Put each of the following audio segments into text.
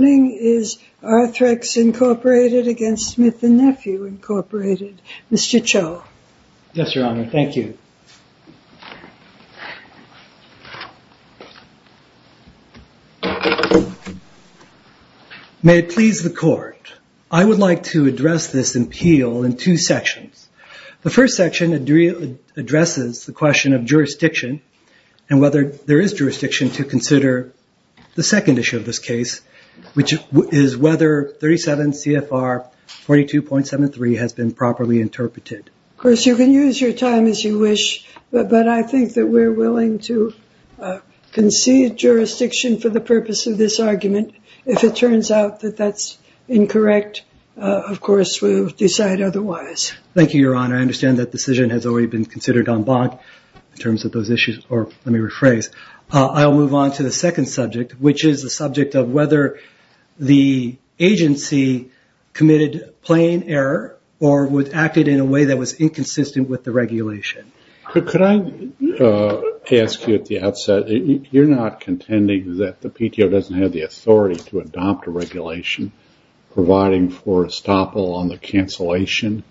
May it please the Court. I would like to address this appeal in two sections. The first section addresses the question of jurisdiction and whether there is jurisdiction to consider the second issue of this case, which is whether 37 CFR 42.73 has been properly interpreted. Of course, you can use your time as you wish, but I think that we're willing to concede jurisdiction for the purpose of this argument. If it turns out that that's incorrect, of course we'll decide otherwise. Thank you, Your Honor. I understand that decision has already been considered en banc in terms of those issues. Let me rephrase. I'll move on to the second subject, which is the subject of whether the agency committed plain error or acted in a way that was inconsistent with the regulation. Could I ask you at the outset, you're not contending that the PTO doesn't have the authority to adopt a regulation providing for a stop on the cancellation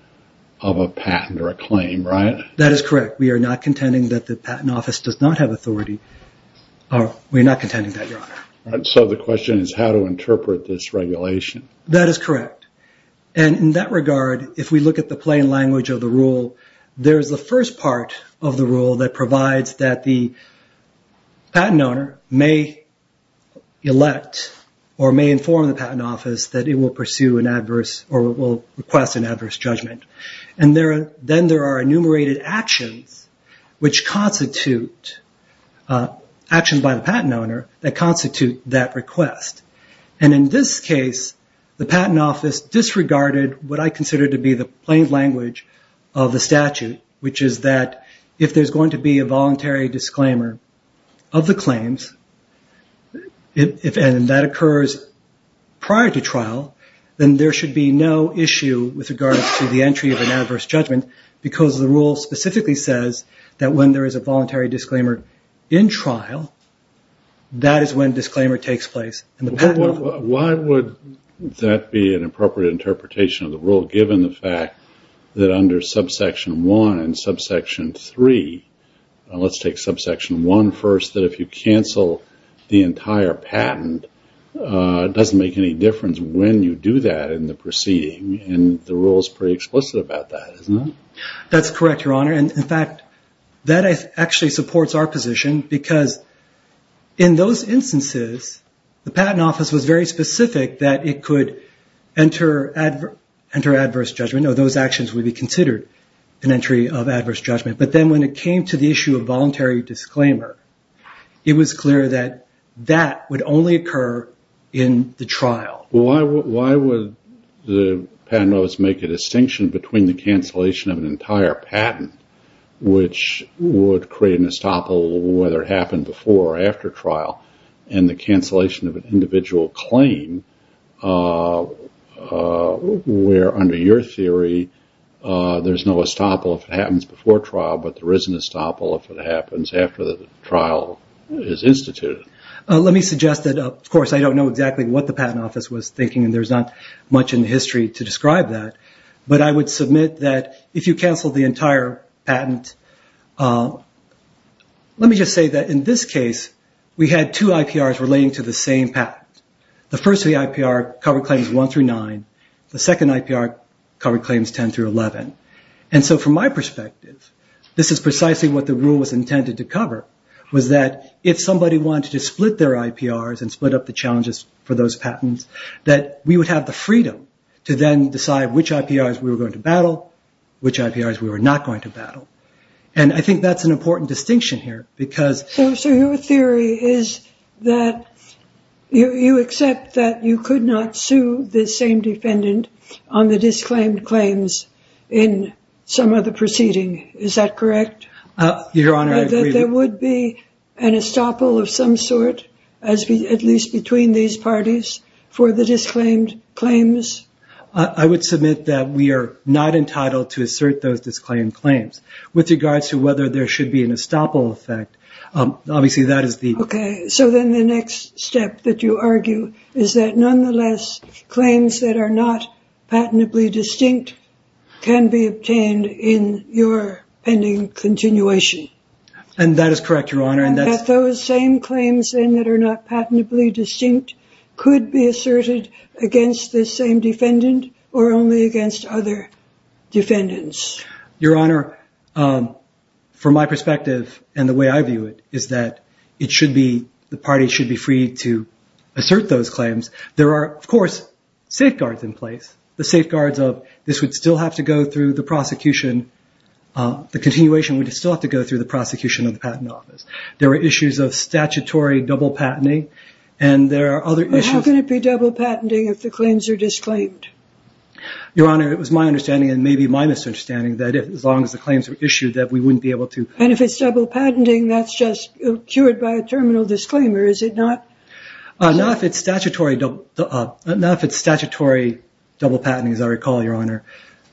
of a patent or a claim, right? That is correct. We are not contending that the Patent Office does not have authority. We're not contending that, Your Honor. The question is how to interpret this regulation. That is correct. In that regard, if we look at the plain language of the rule, there's the first part of the rule that provides that the patent owner may elect or may inform the Patent Office that it will pursue an adverse or will request an adverse judgment. Then there are enumerated actions by the patent owner that constitute that request. In this case, the Patent Office disregarded what I consider to be the plain language of the statute, which is that if there's going to be a voluntary disclaimer of the claims, and that occurs prior to trial, then there should be no issue with regards to the entry of an adverse judgment, because the rule specifically says that when there is a voluntary disclaimer in trial, that is when disclaimer takes place in the Patent Office. Why would that be an appropriate interpretation of the rule, given the fact that under subsection 1 and subsection 3, let's take subsection 1 first, that if you cancel the entire patent, it doesn't make any difference when you do that in the proceeding, and the rule is pretty explicit about that, isn't it? That's correct, Your Honor. In fact, that actually supports our position, because in those instances, the Patent Office was very specific that it could enter adverse judgment, or those actions would be considered an entry of adverse judgment, but then when it came to the issue of voluntary disclaimer, it was clear that that would only occur in the trial. Why would the Patent Office make a distinction between the cancellation of an entire patent, which would create an estoppel whether it happened before or after trial, and the cancellation of an individual claim, where under your theory, there's no estoppel if it happens before trial, but there is an estoppel if it happens after the trial is instituted? Let me suggest that, of course, I don't know exactly what the Patent Office was thinking, and there's not much in history to describe that, but I would submit that if you cancel the entire patent, let me just say that in this case, we had two IPRs relating to the same patent. The first of the IPR covered claims 1 through 9. The second IPR covered claims 10 through 11, and so from my perspective, this is precisely what the rule was intended to cover, was that if somebody wanted to split their IPRs and split up the challenges for those patents, that we would have the freedom to then decide which IPRs we were going to battle, which IPRs we were not going to battle, and I think that's an important distinction here, because... So your theory is that you accept that you could not sue the same defendant on the disclaimed claims in some other proceeding, is that correct? Your Honor, I agree... That there would be an estoppel of some sort, at least between these parties, for the disclaimed claims? I would submit that we are not entitled to assert those disclaimed claims. With regards to whether there should be an estoppel effect, obviously that is the... Okay, so then the next step that you argue is that nonetheless, claims that are not patently distinct can be obtained in your pending continuation? And that is correct, Your Honor, and that's... That those same claims, then, that are not patently distinct could be asserted against the same defendant, or only against other defendants? Your Honor, from my perspective, and the way I view it, is that it should be, the party should be free to assert those claims. There are, of course, safeguards in place, the safeguards of this would still have to go through the prosecution, the continuation would still have to go through the prosecution of the patent office. There are issues of statutory double patenting, and there are other issues... How can it be double patenting if the claims are disclaimed? Your Honor, it was my understanding, and maybe my misunderstanding, that as long as the claims were issued, that we wouldn't be able to... And if it's double patenting, that's just cured by a terminal disclaimer, is it not? Not if it's statutory double patenting, as I recall, Your Honor,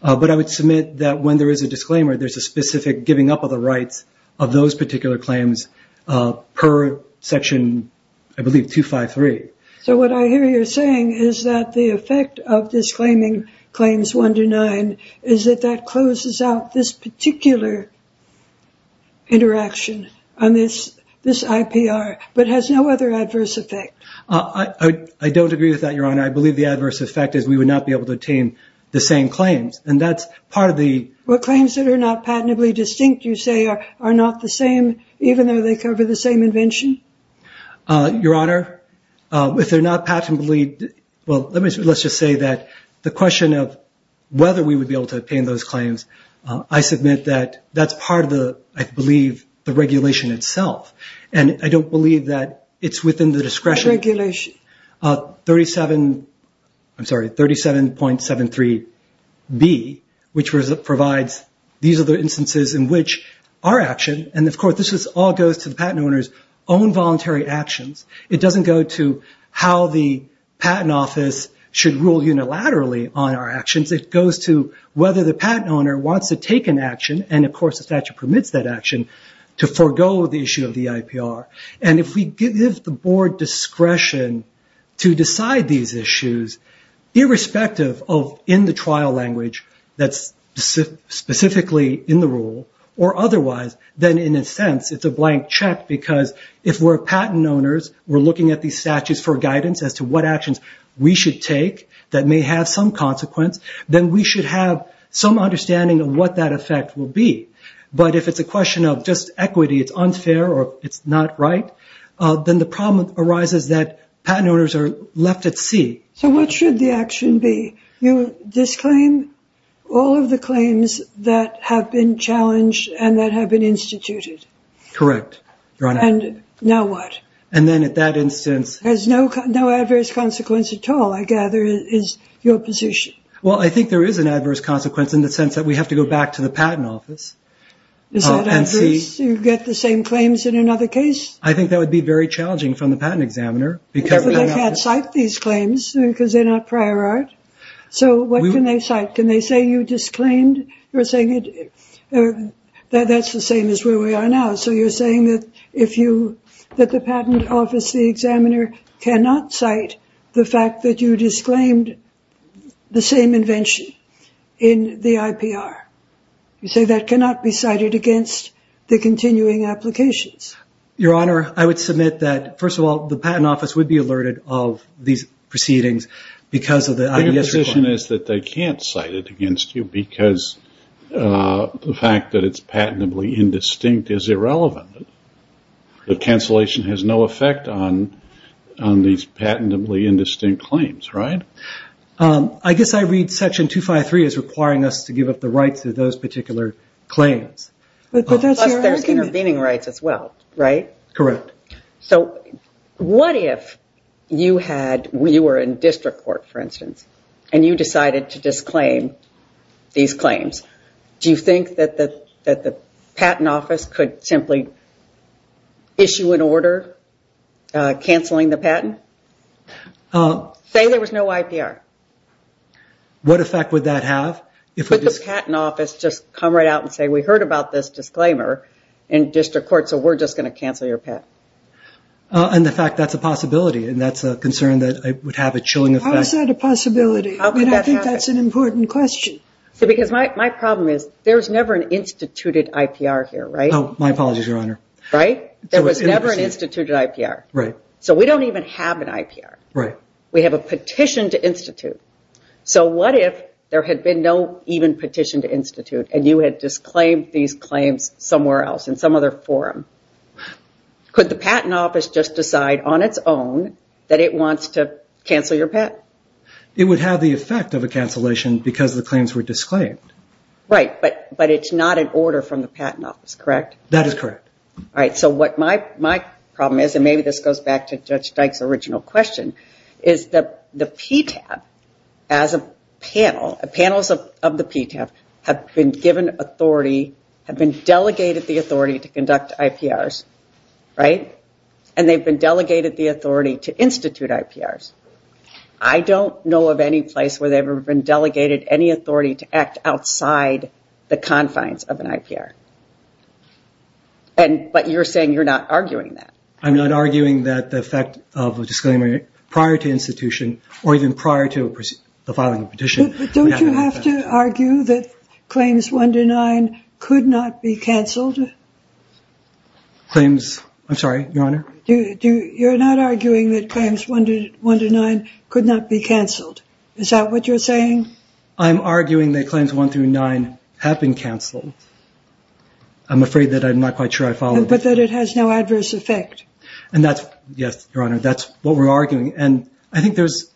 but I would submit that when there is a disclaimer, there's a specific giving up of the rights of those particular claims per section, I believe, 253. So what I hear you're saying is that the effect of disclaiming claims 1 to 9 is that that interaction on this IPR, but has no other adverse effect. I don't agree with that, Your Honor. I believe the adverse effect is we would not be able to obtain the same claims, and that's part of the... What claims that are not patentably distinct, you say, are not the same, even though they cover the same invention? Your Honor, if they're not patentably... Well, let's just say that the question of whether we would be able to obtain those claims, I submit that that's part of the, I believe, the regulation itself, and I don't believe that it's within the discretion of 37.73B, which provides these are the instances in which our action, and of course, this all goes to the patent owner's own voluntary actions. It doesn't go to how the patent office should rule unilaterally on our actions. It goes to whether the patent owner wants to take an action, and of course, the statute permits that action, to forego the issue of the IPR. If we give the board discretion to decide these issues, irrespective of in the trial language that's specifically in the rule, or otherwise, then in a sense, it's a blank check because if we're patent owners, we're looking at these statutes for guidance as to what actions we should take that may have some consequence, then we should have some understanding of what that effect will be. But if it's a question of just equity, it's unfair, or it's not right, then the problem arises that patent owners are left at sea. So what should the action be? You disclaim all of the claims that have been challenged and that have been instituted? Correct, Your Honor. And now what? And then at that instance... Has no adverse consequence at all, I gather, is your position. Well, I think there is an adverse consequence in the sense that we have to go back to the patent office and see... Is that adverse? You get the same claims in another case? I think that would be very challenging from the patent examiner because... Because they can't cite these claims because they're not prior art. So what can they cite? Can they say you disclaimed? You're saying that's the same as where we are now. So you're saying that the patent office, the examiner, cannot cite the fact that you disclaimed the same invention in the IPR. You say that cannot be cited against the continuing applications. Your Honor, I would submit that, first of all, the patent office would be alerted of these proceedings because of the IES... Your position is that they can't cite it against you because the fact that it's patently indistinct is irrelevant. The cancellation has no effect on these patently indistinct claims, right? I guess I read Section 253 as requiring us to give up the rights to those particular But that's your argument. Plus, there's intervening rights as well, right? Correct. So what if you were in district court, for instance, and you decided to disclaim these claims? Do you think that the patent office could simply issue an order cancelling the patent? Say there was no IPR. What effect would that have? Would the patent office just come right out and say, we heard about this disclaimer in district court, so we're just going to cancel your patent? And the fact that's a possibility, and that's a concern that would have a chilling effect. How is that a possibility? How could that happen? I think that's an important question. Because my problem is, there's never an instituted IPR here, right? My apologies, Your Honor. Right? There was never an instituted IPR. So we don't even have an IPR. We have a petition to institute. So what if there had been no even petition to institute, and you had disclaimed these claims somewhere else, in some other forum? Could the patent office just decide on its own that it wants to cancel your patent? It would have the effect of a cancellation because the claims were disclaimed. Right. But it's not an order from the patent office, correct? That is correct. All right. So what my problem is, and maybe this goes back to Judge Dyke's original question, is that the PTAB, as a panel, panels of the PTAB have been given authority, have been delegated the authority to conduct IPRs, right? And they've been delegated the authority to institute IPRs. I don't know of any place where they've ever been delegated any authority to act outside the confines of an IPR. But you're saying you're not arguing that. I'm not arguing that the effect of a disclaimer prior to institution, or even prior to the filing of a petition, would have an effect. But don't you have to argue that claims 1 to 9 could not be canceled? Claims? I'm sorry, Your Honor? You're not arguing that claims 1 to 9 could not be canceled. Is that what you're saying? I'm arguing that claims 1 through 9 have been canceled. I'm afraid that I'm not quite sure I follow. But that it has no adverse effect. And that's, yes, Your Honor, that's what we're arguing. And I think there's,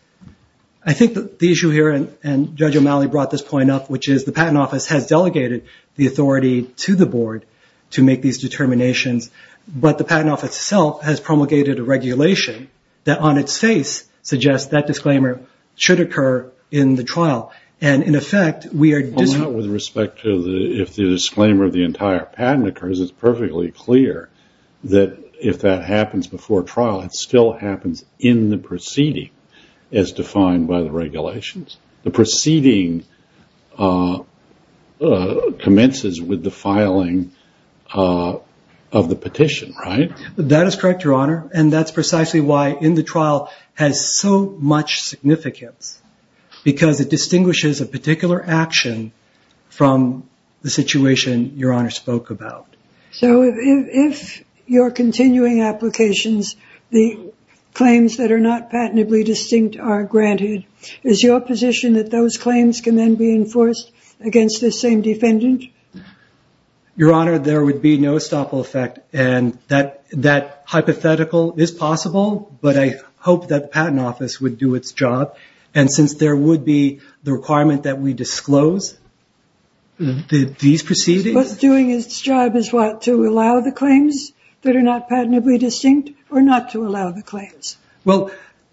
I think the issue here, and Judge O'Malley brought this point up, which is the patent office has delegated the authority to the board to make these determinations. But the patent office itself has promulgated a regulation that, on its face, suggests that disclaimer should occur in the trial. And in effect, we are disagreeing. Well, not with respect to if the disclaimer of the entire patent occurs. It's perfectly clear that if that happens before trial, it still happens in the proceeding as defined by the regulations. The proceeding commences with the filing of the petition, right? That is correct, Your Honor. And that's precisely why in the trial has so much significance, because it distinguishes a particular action from the situation Your Honor spoke about. So if your continuing applications, the claims that are not patently distinct are granted, is your position that those claims can then be enforced against the same defendant? Your Honor, there would be no stoppable effect. And that hypothetical is possible, but I hope that the patent office would do its job. And since there would be the requirement that we disclose these proceedings. But doing its job is what? To allow the claims that are not patently distinct, or not to allow the claims? Well,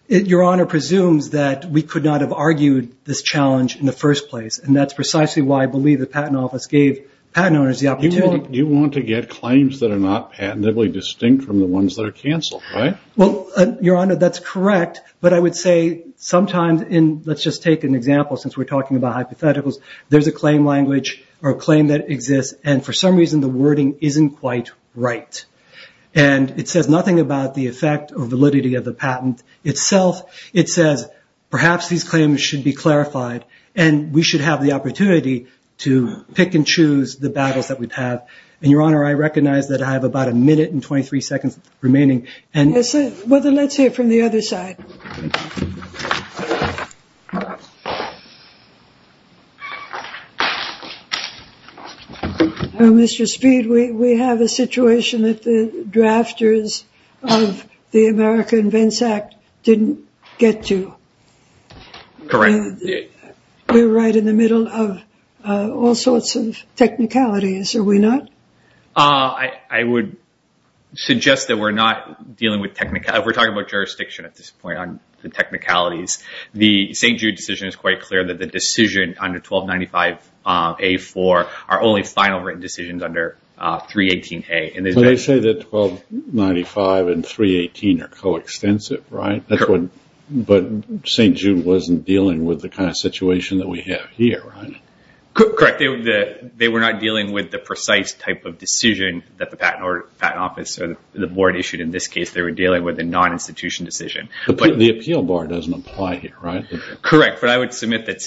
Your Honor presumes that we could not have argued this challenge in the first place. And that's precisely why I believe the patent office gave patent owners the opportunity. You want to get claims that are not patently distinct from the ones that are canceled, right? Well, Your Honor, that's correct. But I would say sometimes in, let's just take an example, since we're talking about hypotheticals, there's a claim language or a claim that exists, and for some reason the wording isn't quite right. And it says nothing about the effect or validity of the patent itself. It says, perhaps these claims should be clarified, and we should have the opportunity to pick and choose the battles that we'd have. And Your Honor, I recognize that I have about a minute and 23 seconds remaining. Yes, let's hear it from the other side. Mr. Speed, we have a situation that the drafters of the America Invents Act didn't get to. Correct. We're right in the middle of all sorts of technicalities, are we not? I would suggest that we're not dealing with technicalities. We're talking about jurisdiction at this point on the technicalities. The St. Jude decision is quite clear that the decision under 1295A4 are only final written decisions under 318A. So they say that 1295 and 318 are coextensive, right? But St. Jude wasn't dealing with the kind of situation that we have here, right? Correct. They were not dealing with the precise type of decision that the patent office or the board issued. In this case, they were dealing with a non-institution decision. The appeal bar doesn't apply here, right? Correct, but I would submit that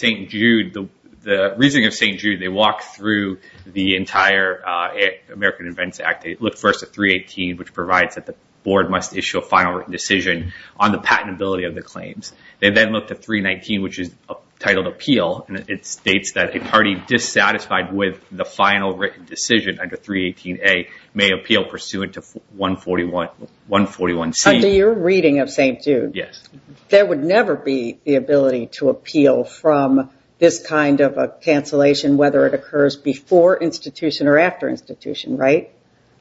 the reasoning of St. Jude, they walked through the entire America Invents Act. They looked first at 318, which provides that the board must issue a final written decision on the patentability of the claims. They then looked at 319, which is titled appeal, and it states that a party dissatisfied with the final written decision under 318A may appeal pursuant to 141C. Under your reading of St. Jude? Yes. There would never be the ability to appeal from this kind of a cancellation whether it occurs before institution or after institution, right?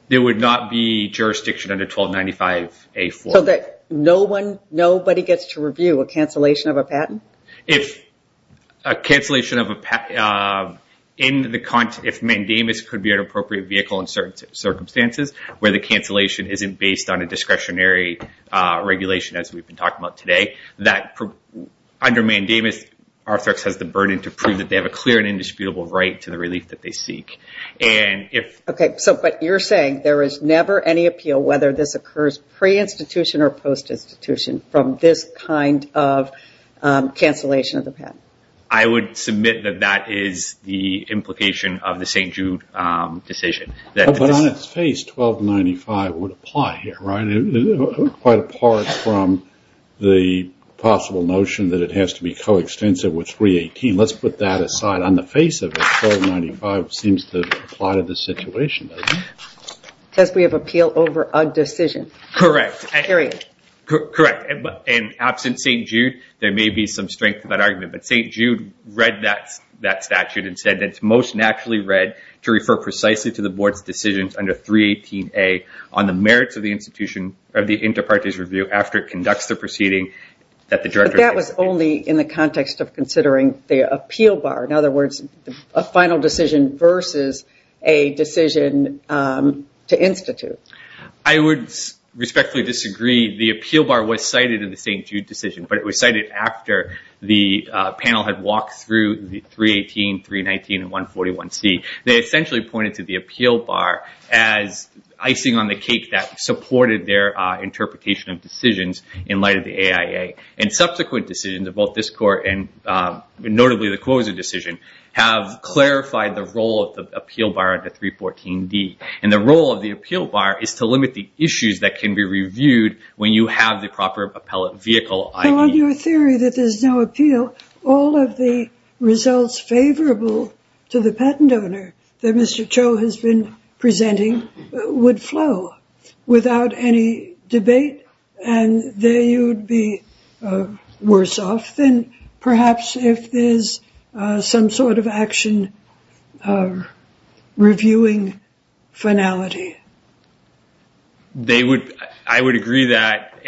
There would not be jurisdiction under 1295A4. So that nobody gets to review a cancellation of a patent? If a cancellation of a patent, if mandamus could be an appropriate vehicle in certain circumstances, where the cancellation isn't based on a discretionary regulation, as we've been talking about today, under mandamus, Arthrex has the burden to prove that they have a clear and indisputable right to the relief that they seek. But you're saying there is never any appeal whether this occurs pre-institution or post-institution from this kind of cancellation of the patent? I would submit that that is the implication of the St. Jude decision. But on its face, 1295 would apply here, right? Quite apart from the possible notion that it has to be co-extensive with 318. Let's put that aside. On the face of it, 1295 seems to apply to this situation, doesn't it? Because we have appeal over a decision. Correct. And absent St. Jude, there may be some strength in that argument. But St. Jude read that statute and said it's most naturally read to refer precisely to the Board's decisions under 318A on the merits of the inter partes review after it conducts the proceeding. But that was only in the context of considering the appeal bar. In other words, a final decision versus a decision to institute. I would respectfully disagree. The appeal bar was cited in the St. Jude decision. But it was cited after the panel had walked through the 318, 319, and 141C. They essentially pointed to the appeal bar as icing on the cake that supported their interpretation of decisions in light of the AIA. And subsequent decisions of both this Court and notably the Quosa decision have clarified the role of the appeal bar under 314D. And the role of the appeal bar is to limit the issues that can be reviewed when you have the proper appellate vehicle ID. So on your theory that there's no appeal, all of the results favorable to the patent owner that Mr. Cho has been presenting would flow without any debate. And there you would be worse off than perhaps if there's some sort of action or reviewing finality. I would agree that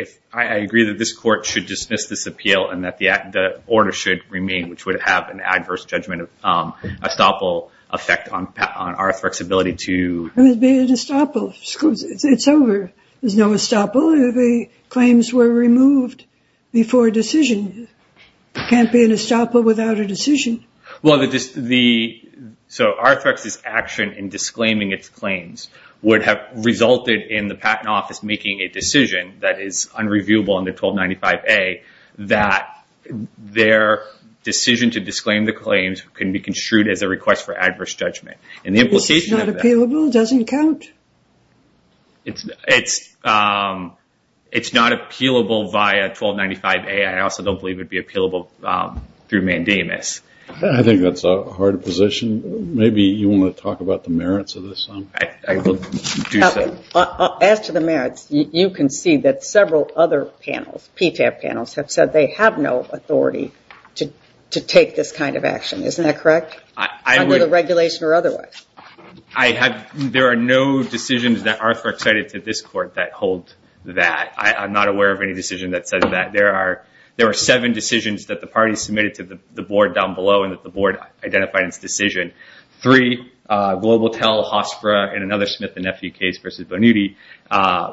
this Court should dismiss this appeal and that the order should remain, which would have an adverse judgment of estoppel effect on our flexibility to... It would be an estoppel. It's over. There's no estoppel. The claims were removed before decision. It can't be an estoppel without a decision. Well, so Arthrex's action in disclaiming its claims would have resulted in the Patent Office making a decision that is unreviewable under 1295A that their decision to disclaim the claims can be construed as a request for adverse judgment. This is not appealable? It doesn't count? It's not appealable via 1295A. I also don't believe it would be appealable through mandamus. I think that's a hard position. Maybe you want to talk about the merits of this? I will do so. As to the merits, you can see that several other panels, PTAP panels, have said they have no authority to take this kind of action, isn't that correct? Under the regulation or otherwise. There are no decisions that Arthrex cited to this Court that hold that. I'm not aware of any decision that says that. There are seven decisions that the parties submitted to the Board down below and that the Board identified in its decision. Three, GlobalTel, HOSFRA, and another Smith and Nephew case versus Bonuti.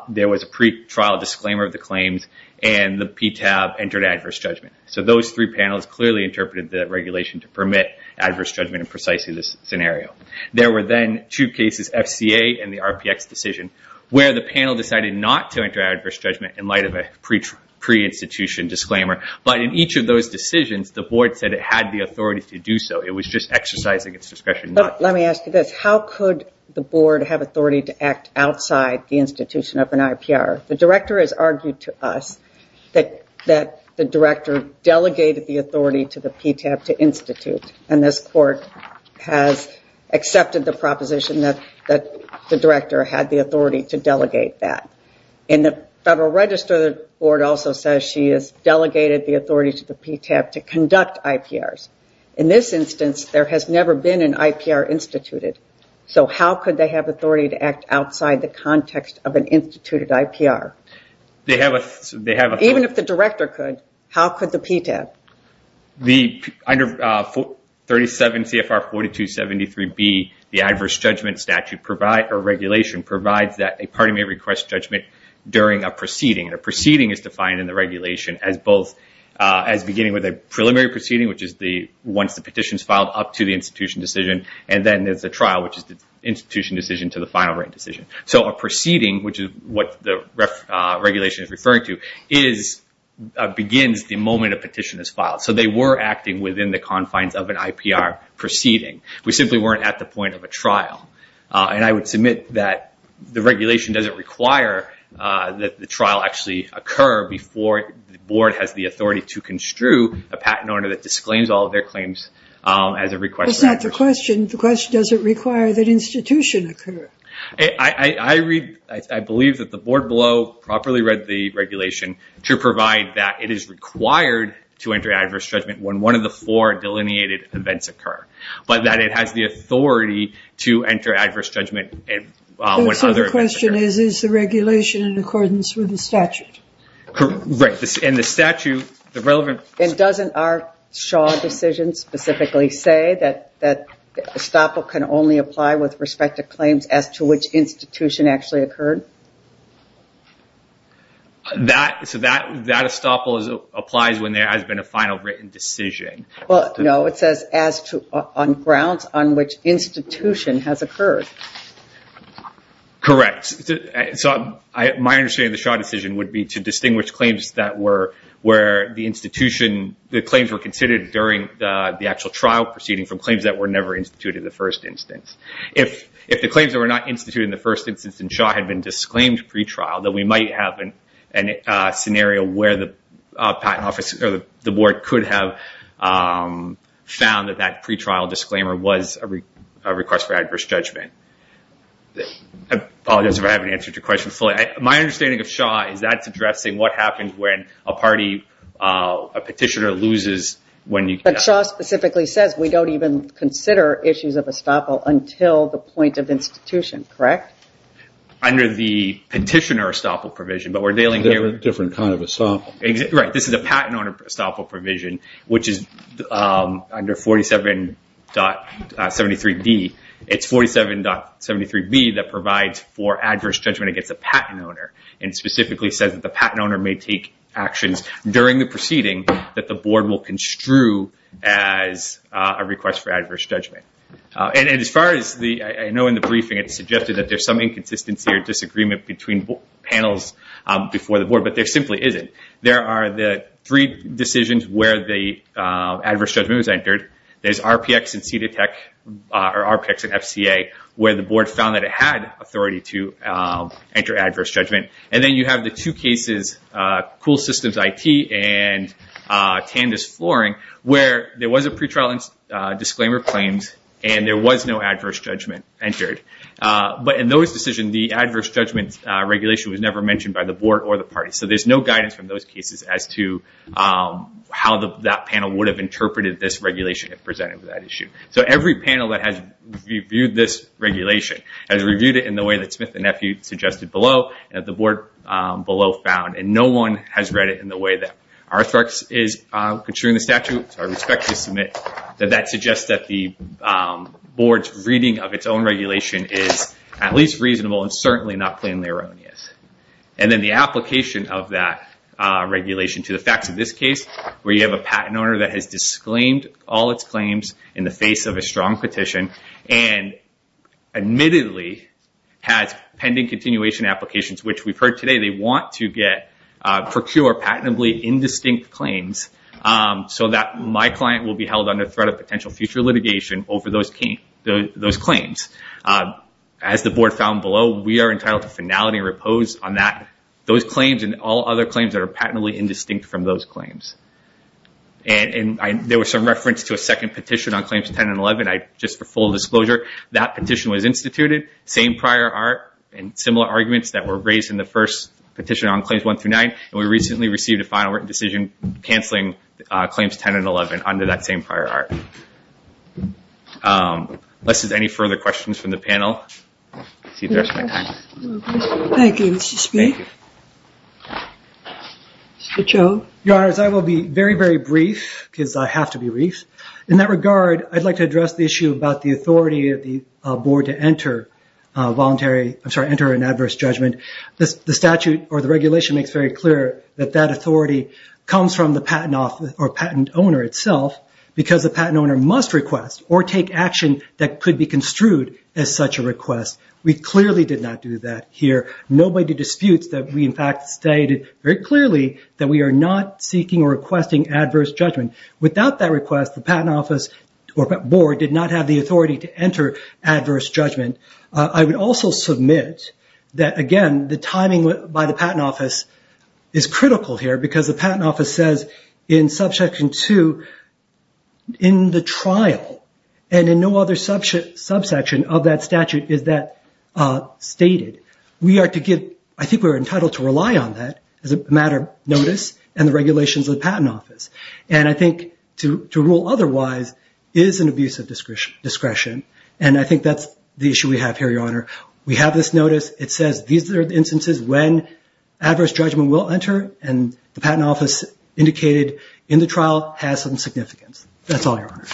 There was a pretrial disclaimer of the claims and the PTAP entered adverse judgment. Those three panels clearly interpreted the regulation to permit adverse judgment in precisely this scenario. There were then two cases, FCA and the RPX decision, where the panel decided not to enter adverse judgment in light of a pre-institution disclaimer. In each of those decisions, the Board said it had the authority to do so. It was just exercising its discretion not to. Let me ask you this, how could the Board have authority to act outside the institution of an IPR? The Director has argued to us that the Director delegated the authority to the PTAP to institute. This Court has accepted the proposition that the Director had the authority to delegate that. In the Federal Register, the Board also says she has delegated the authority to the PTAP to conduct IPRs. In this instance, there has never been an IPR instituted. How could they have authority to act outside the context of an instituted IPR? Even if the Director could, how could the PTAP? Under 37 CFR 4273B, the adverse judgment regulation provides that a party may request judgment during a proceeding. A proceeding is defined in the regulation as beginning with a preliminary proceeding, which is once the petition is filed up to the institution decision. Then there is a trial, which is the institution decision to the final written decision. A proceeding, which is what the regulation is referring to, begins the moment a petition is filed. They were acting within the confines of an IPR proceeding. We simply weren't at the point of a trial. I would submit that the regulation doesn't require that the trial actually occur before the Board has the authority to construe a patent order that disclaims all of their claims as a request. It's not the question. The question is does it require that the institution occur? I believe that the Board below properly read the regulation to provide that it is required to enter adverse judgment when one of the four delineated events occur. It has the authority to enter adverse judgment when other events occur. The question is, is the regulation in accordance with the statute? Correct. Doesn't our Shaw decision specifically say that estoppel can only apply with respect to claims as to which institution actually occurred? That estoppel applies when there has been a final written decision. No, it says on grounds on which institution has occurred. Correct. My understanding of the Shaw decision would be to distinguish claims that were considered during the actual trial proceeding from claims that were never instituted in the first instance. If the claims that were not instituted in the first instance in Shaw had been disclaimed pretrial, then we might have a scenario where the Board could have found that pretrial disclaimer was a request for adverse judgment. I apologize if I haven't answered your question fully. My understanding of Shaw is that is addressing what happens when a petitioner loses. Shaw specifically says we don't even consider issues of estoppel until the point of institution, correct? Under the petitioner estoppel provision. Different kind of estoppel. This is a patent owner estoppel provision which is under 47.73B It's 47.73B that provides for adverse judgment against a patent owner. It specifically says that the patent owner may take actions during the proceeding that the Board will construe as a request for adverse judgment. As far as I know in the briefing it's suggested that there's some inconsistency or disagreement between panels before the Board, but there simply isn't. There are the three decisions where the adverse judgment was entered. There's RPX and CDETEC or RPX and FCA where the Board found that it had authority to enter adverse judgment. Then you have the two cases, Cool Systems IT and Tandis Flooring where there was a pretrial disclaimer claimed and there was no adverse judgment entered. In those decisions the adverse judgment regulation was never mentioned by the Board or the party. There's no guidance from those cases as to how that panel would have interpreted this regulation if presented with that issue. Every panel that has reviewed this regulation has reviewed it in the way that Smith and Effie suggested below and that the Board below found. No one has read it in the way that Arthrux is construing the statute, so I respect to submit that that suggests that the Board's reading of its own regulation is at least reasonable and certainly not plainly erroneous. Then the application of that regulation to the facts of this case where you have a patent owner that has disclaimed all its claims in the face of a strong petition and admittedly has pending continuation applications, which we've heard today they want to procure patently indistinct claims so that my client will be held under threat of potential future litigation over those claims. As the Board found below, we are entitled to finality and repose on those claims and all other claims that are patently indistinct from those claims. There was some reference to a second petition on which the petition was instituted, same prior art and similar arguments that were raised in the first petition on Claims 1-9 and we recently received a final written decision cancelling Claims 10 and 11 under that same prior art. Unless there's any further questions from the panel, I'll see you the rest of my time. Thank you, Mr. Smith. Mr. Cho? Your Honor, as I will be very, very brief because I have to be brief, in that regard I'd like to address the issue about the authority of the Board to enter an adverse judgment. The statute or the regulation makes very clear that that authority comes from the patent owner itself because the patent owner must request or take action that could be construed as such a request. We clearly did not do that here. Nobody disputes that we in fact stated very clearly that we are not seeking or requesting adverse judgment. Without that request, the Patent Office or Board did not have the authority to enter adverse judgment. I would also submit that again the timing by the Patent Office is critical here because the Patent Office says in Subsection 2 in the trial and in no other subsection of that statute is that stated. I think we are entitled to rely on that as a matter of notice and the regulations of the Patent Office. I think to rule otherwise is an abuse of discretion and I think that's the issue we have here, Your Honor. We have this notice. It says these are the instances when adverse judgment will enter and the Patent Office indicated in the trial has some significance. That's all, Your Honor.